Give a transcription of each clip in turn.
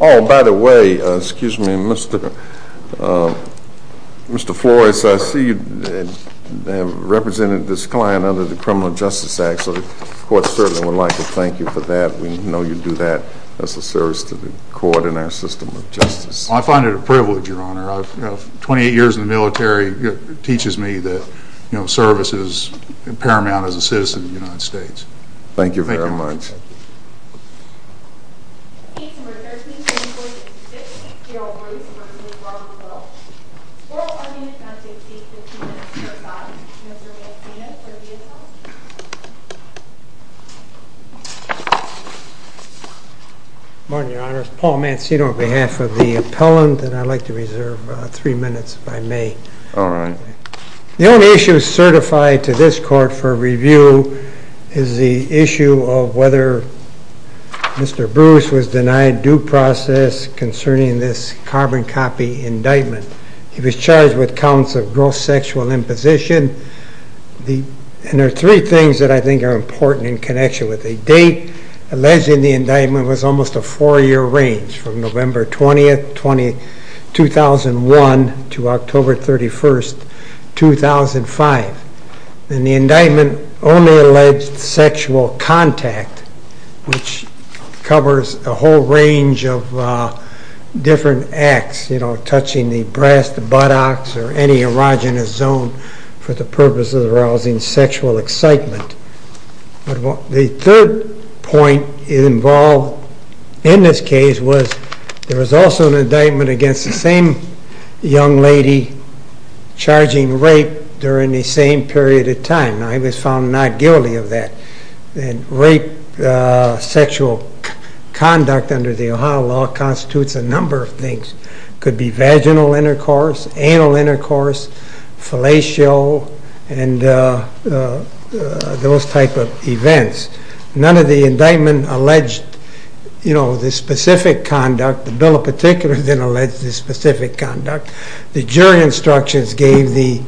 Oh, by the way, excuse me, Mr. Flores, I see you have represented this client under the Criminal Justice Act, so the court certainly would like to thank you for that. We know you do that as a service to the court and our system of justice. I find it a privilege, Your Honor. Twenty-eight years in the military teaches me that service is paramount as a citizen of the United States. Thank you very much. Good morning, Your Honor. It's Paul Mancino on behalf of the appellant, and I'd like to reserve three minutes if I may. All right. The only issue certified to this court for review is the issue of whether Mr. Bruce was denied due process concerning this carbon copy indictment. He was charged with counts of gross sexual imposition, and there are three things that I think are important in connection with the date. Alleging the indictment was almost a four-year range from November 20, 2001 to October 31, 2005. And the indictment only alleged sexual contact, which covers a whole range of different acts, you know, touching the breast, the buttocks, or any erogenous zone for the purpose of arousing sexual excitement. The third point involved in this case was there was also an indictment against the same young lady charging rape during the same period of time. Now, he was found not guilty of that. And rape sexual conduct under the Ohio law constitutes a number of things. It could be those type of events. None of the indictment alleged, you know, this specific conduct. The bill in particular didn't allege this specific conduct. The jury instructions gave the,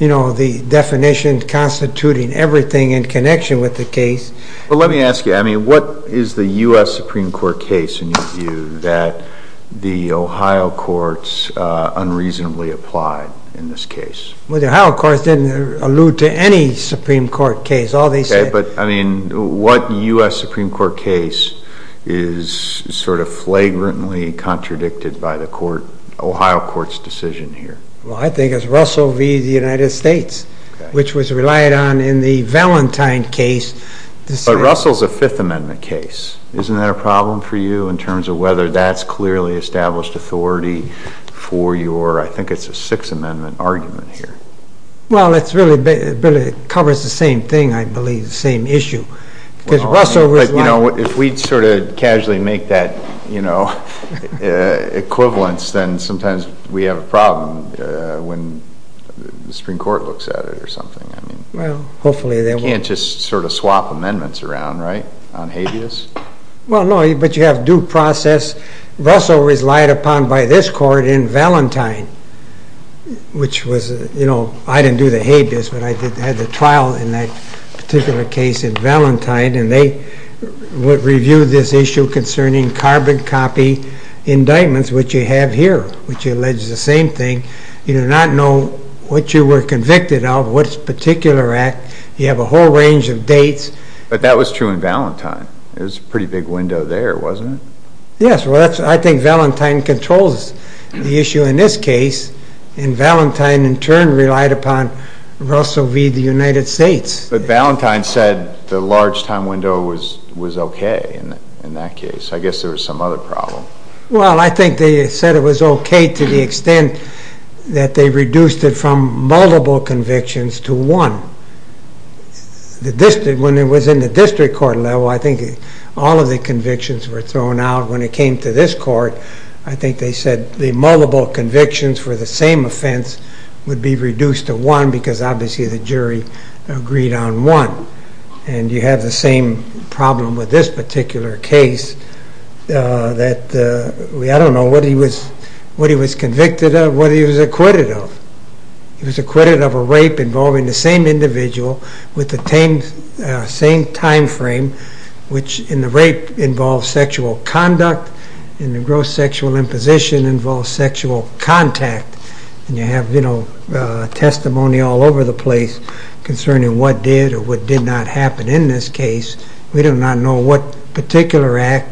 you know, the definition constituting everything in connection with the case. But let me ask you, I mean, what is the U.S. Supreme Court case in your view that the Ohio courts unreasonably applied in this case? Well, the Ohio courts didn't allude to any Supreme Court case. All they said... Okay, but, I mean, what U.S. Supreme Court case is sort of flagrantly contradicted by the court, Ohio court's decision here? Well, I think it's Russell v. The United States, which was relied on in the Valentine case. But Russell's a Fifth Amendment case. Isn't that a problem for you in terms of whether that's clearly established authority for your, I think it's a Sixth Amendment argument here? Well, it really covers the same thing, I believe, the same issue. Because Russell was... But, you know, if we sort of casually make that, you know, equivalence, then sometimes we have a problem when the Supreme Court looks at it or something. I mean... Well, hopefully they won't... You can't just sort of swap amendments around, right, on habeas? Well, no, but you have due process. Russell was relied upon by this court in Valentine, which was, you know, I didn't do the habeas, but I had the trial in that particular case in Valentine, and they would review this issue concerning carbon copy indictments, which you have here, which alleges the same thing. You do not know what you were convicted of, what particular act. You have a whole range of dates. But that was true in Valentine. It was a pretty big window there, wasn't it? Yes, well, I think Valentine controls the issue in this case, and Valentine, in turn, relied upon Russell v. the United States. But Valentine said the large time window was okay in that case. I guess there was some other problem. Well, I think they said it was okay to the extent that they reduced it from multiple convictions to one. When it was in the district court level, I think all of the convictions were thrown out. When it came to this court, I think they said the multiple convictions for the same offense would be reduced to one, because obviously the jury agreed on one. And you have the same problem with this particular case that... I don't know what he was convicted of, what he was acquitted of. He was acquitted of a rape involving the same individual with the same time frame, which in the rape involves sexual conduct, in the gross sexual imposition involves sexual contact. And you have testimony all over the place concerning what did or what did not happen in this case. We do not know what particular act,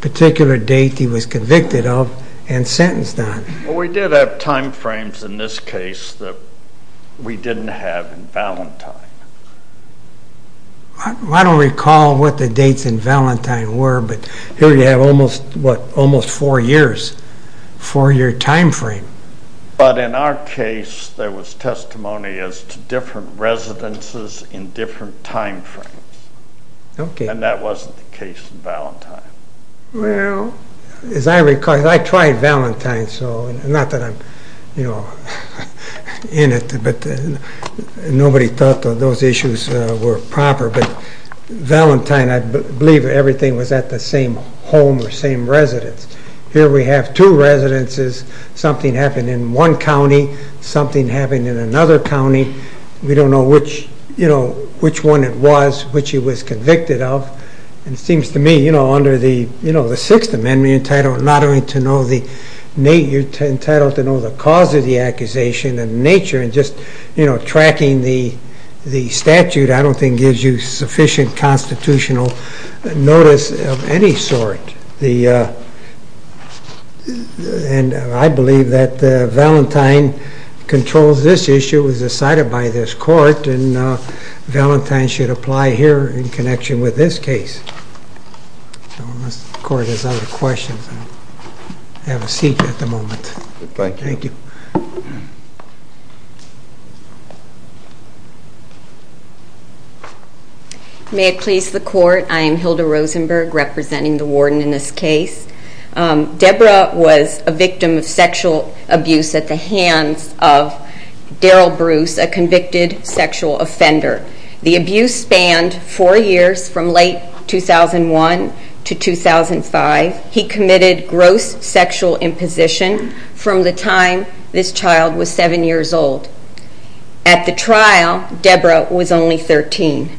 particular date he was convicted of and sentenced on. Well, we did have time frames in this case that we didn't have in Valentine. I don't recall what the dates in Valentine were, but here you have almost, what, almost four years, four-year time frame. But in our case, there was testimony as to different residences in different time frames. And that wasn't the case in Valentine. Well, as I recall, I tried Valentine, not that I'm in it, but nobody thought those issues were proper. But Valentine, I believe everything was at the same home or same residence. Here we have two residences. Something happened in one county, something happened in another county. We don't know which one it was, which he was convicted of. And it seems to me, under the Sixth Amendment, you're entitled not only to know the date, you're entitled to know the cause of the accusation and nature, and just tracking the statute I don't think gives you sufficient constitutional notice of any sort. And I believe that Valentine controls this issue, it was decided by this court, and Valentine should apply here in connection with this case. Unless the court has other questions, I'll have a seat at the moment. Thank you. May it please the court, I am Hilda Rosenberg, representing the warden in this case. Deborah was a victim of sexual abuse at the hands of Daryl Bruce, a convicted sexual offender. The abuse spanned four years from late 2001 to 2005. He committed gross sexual imposition from the time this child was seven years old. At the trial, Deborah was only 13.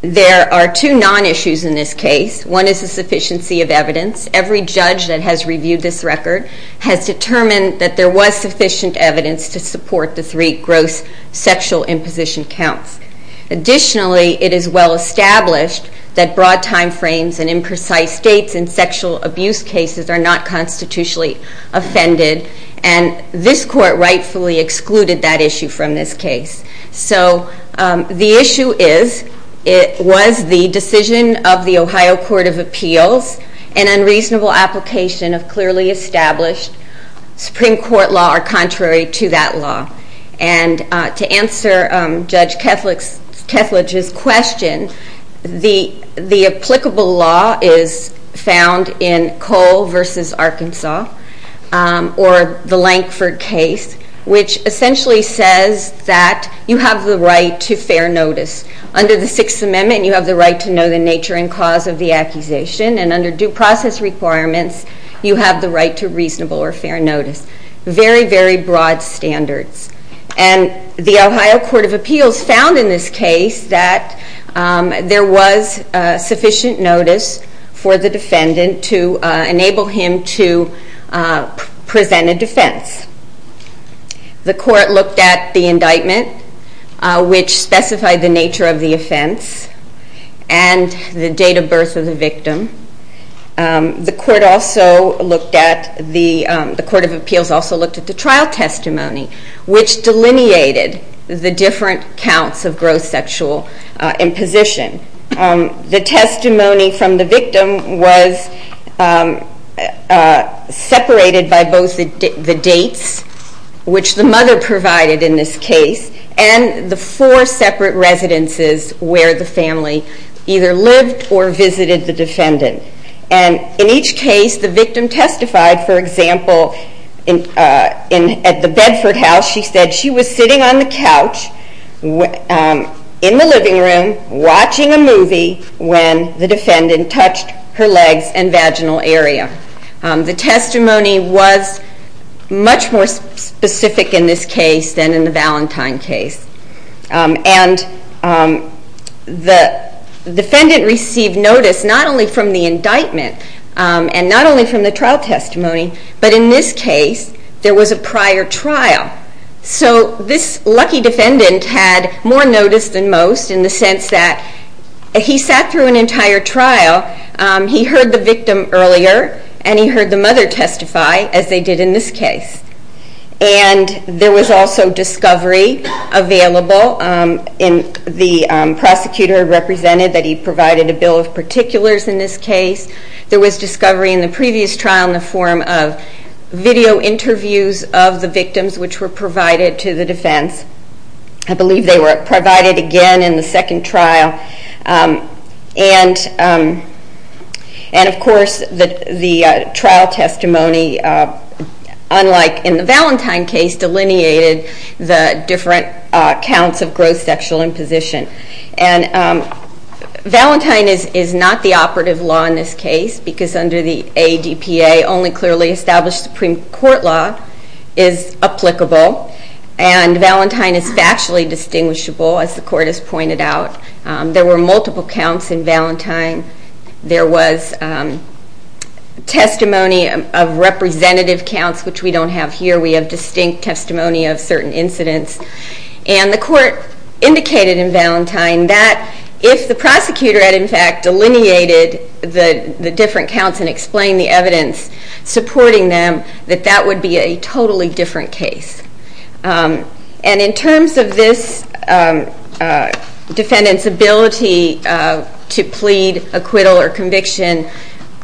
There are two non-issues in this case. One is the sufficiency of evidence. Every judge that has reviewed this record has determined that there was sufficient evidence to support the three gross sexual imposition counts. Additionally, it is well established that broad timeframes and imprecise dates in sexual abuse cases are not constitutionally offended, and this court rightfully excluded that issue from this case. So the issue is, was the decision of the Ohio Court of Appeals an unreasonable application of clearly established Supreme Court law or contrary to that law? And to answer Judge Kethledge's question, the applicable law is found in Cole v. Arkansas or the Lankford case, which essentially says that you have the right to fair notice. Under the Sixth Amendment, you have the right to know the nature and cause of the accusation, and under due process requirements, you have the right to reasonable or fair notice. Very, very broad standards. And the Ohio Court of Appeals found in this case that there was sufficient notice for the defendant to enable him to present a defense. The court looked at the indictment, which specified the nature of the offense and the date of birth of the victim. The Court of Appeals also looked at the trial testimony, which delineated the different counts of gross sexual imposition. The testimony from the victim was separated by both the dates, which the mother provided in this case, and the four separate residences where the family either lived or visited the defendant. And in each case, the victim testified. For example, at the Bedford house, she said she was sitting on the couch in the living room watching a movie when the defendant touched her legs and vaginal area. The testimony was much more specific in this case than in the Valentine case. And the defendant received notice not only from the indictment and not only from the trial testimony, but in this case, there was a prior trial. So this lucky defendant had more notice than most in the sense that he sat through an entire trial, he heard the victim earlier, and he heard the mother testify, as they did in this case. And there was also discovery available. The prosecutor represented that he provided a bill of particulars in this case. There was discovery in the previous trial in the form of video interviews of the victims, which were provided to the defense. I believe they were provided again in the second trial. And, of course, the trial testimony, unlike in the Valentine case, delineated the different counts of gross sexual imposition. And Valentine is not the operative law in this case, because under the ADPA, only clearly established Supreme Court law is applicable. And Valentine is factually distinguishable, as the court has pointed out. There were multiple counts in Valentine. There was testimony of representative counts, which we don't have here. We have distinct testimony of certain incidents. And the court indicated in Valentine that if the prosecutor had, in fact, delineated the different counts and explained the evidence supporting them, that that would be a totally different case. And in terms of this defendant's ability to plead, acquittal, or conviction,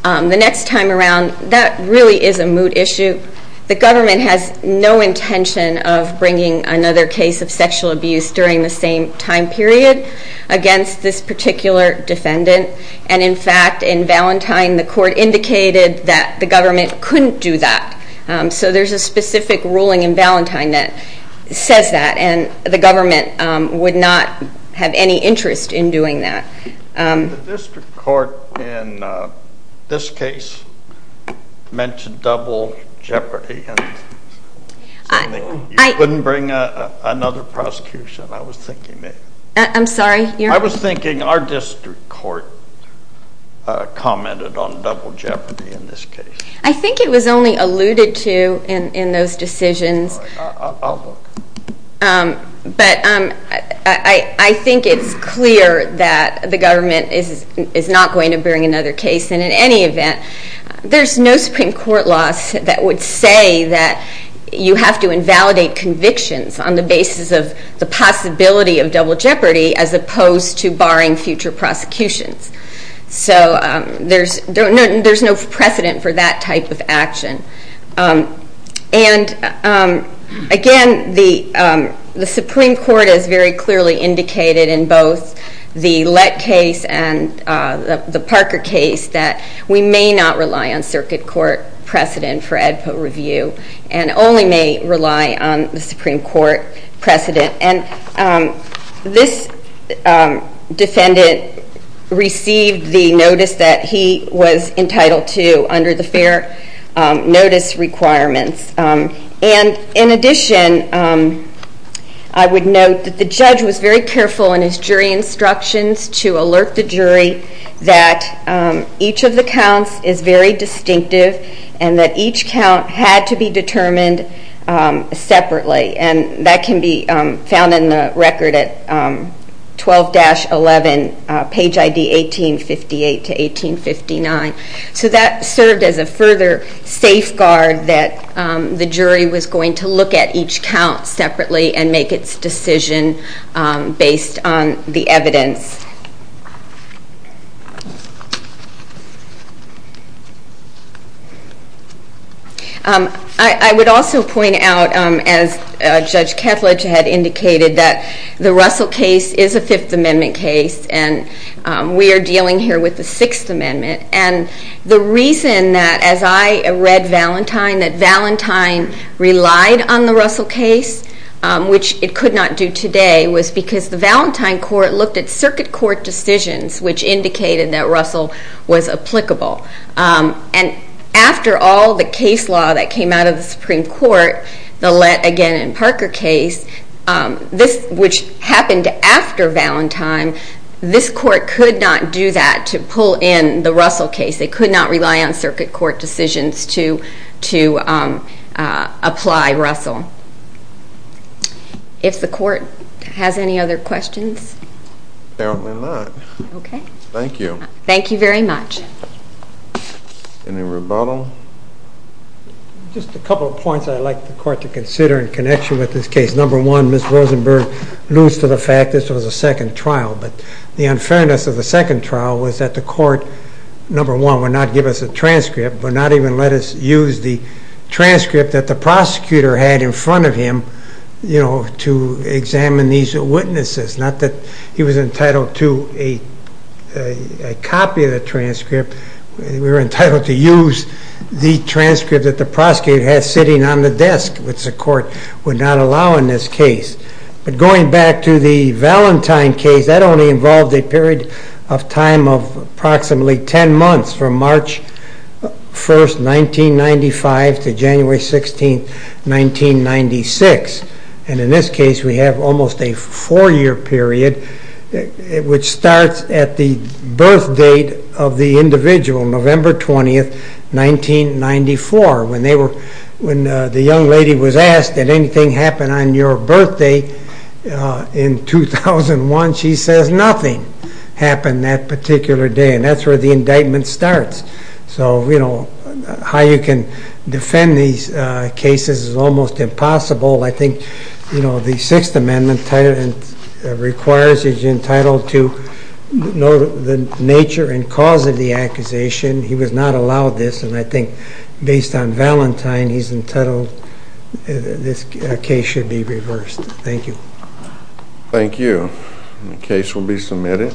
the next time around, that really is a mood issue. The government has no intention of bringing another case of sexual abuse during the same time period against this particular defendant. And, in fact, in Valentine, the court indicated that the government couldn't do that. So there's a specific ruling in Valentine that says that, and the government would not have any interest in doing that. The district court in this case mentioned double jeopardy. You couldn't bring another prosecution, I was thinking. I'm sorry? I was thinking our district court commented on double jeopardy in this case. I think it was only alluded to in those decisions. I'll look. But I think it's clear that the government is not going to bring another case. And, in any event, there's no Supreme Court law that would say that you have to invalidate convictions on the basis of the possibility of double jeopardy as opposed to barring future prosecutions. So there's no precedent for that type of action. And, again, the Supreme Court has very clearly indicated in both the Lett case and the Parker case that we may not rely on circuit court precedent for ADPA review and only may rely on the Supreme Court precedent. And this defendant received the notice that he was entitled to under the fair notice requirements. And, in addition, I would note that the judge was very careful in his jury instructions to alert the jury that each of the counts is very distinctive and that each count had to be determined separately. And that can be found in the record at 12-11, page ID 1858 to 1859. So that served as a further safeguard that the jury was going to look at each count separately and make its decision based on the evidence. I would also point out, as Judge Ketledge had indicated, that the Russell case is a Fifth Amendment case and we are dealing here with the Sixth Amendment. And the reason that, as I read Valentine, that Valentine relied on the Russell case, which it could not do today, was because the Valentine court looked at circuit court precedent and circuit court decisions, which indicated that Russell was applicable. And after all the case law that came out of the Supreme Court, the Lett, again, and Parker case, which happened after Valentine, this court could not do that to pull in the Russell case. They could not rely on circuit court decisions to apply Russell. If the court has any other questions? Apparently not. Okay. Thank you. Thank you very much. Any rebuttal? Just a couple of points I'd like the court to consider in connection with this case. Number one, Ms. Rosenberg alludes to the fact this was a second trial, but the unfairness of the second trial was that the court, number one, would not give us a transcript, would not even let us use the transcript that the prosecutor had in front of him to examine these witnesses. Not that he was entitled to a copy of the transcript. We were entitled to use the transcript that the prosecutor had sitting on the desk, which the court would not allow in this case. But going back to the Valentine case, that only involved a period of time of approximately ten months from March 1st, 1995, to January 16th, 1996. And in this case, we have almost a four-year period, which starts at the birth date of the individual, November 20th, 1994. When the young lady was asked, did anything happen on your birthday in 2001, she says nothing happened that particular day. And that's where the indictment starts. So how you can defend these cases is almost impossible. I think the Sixth Amendment requires that you're entitled to know the nature and cause of the accusation. He was not allowed this. And I think based on Valentine, he's entitled, this case should be reversed. Thank you. Thank you. The case will be submitted.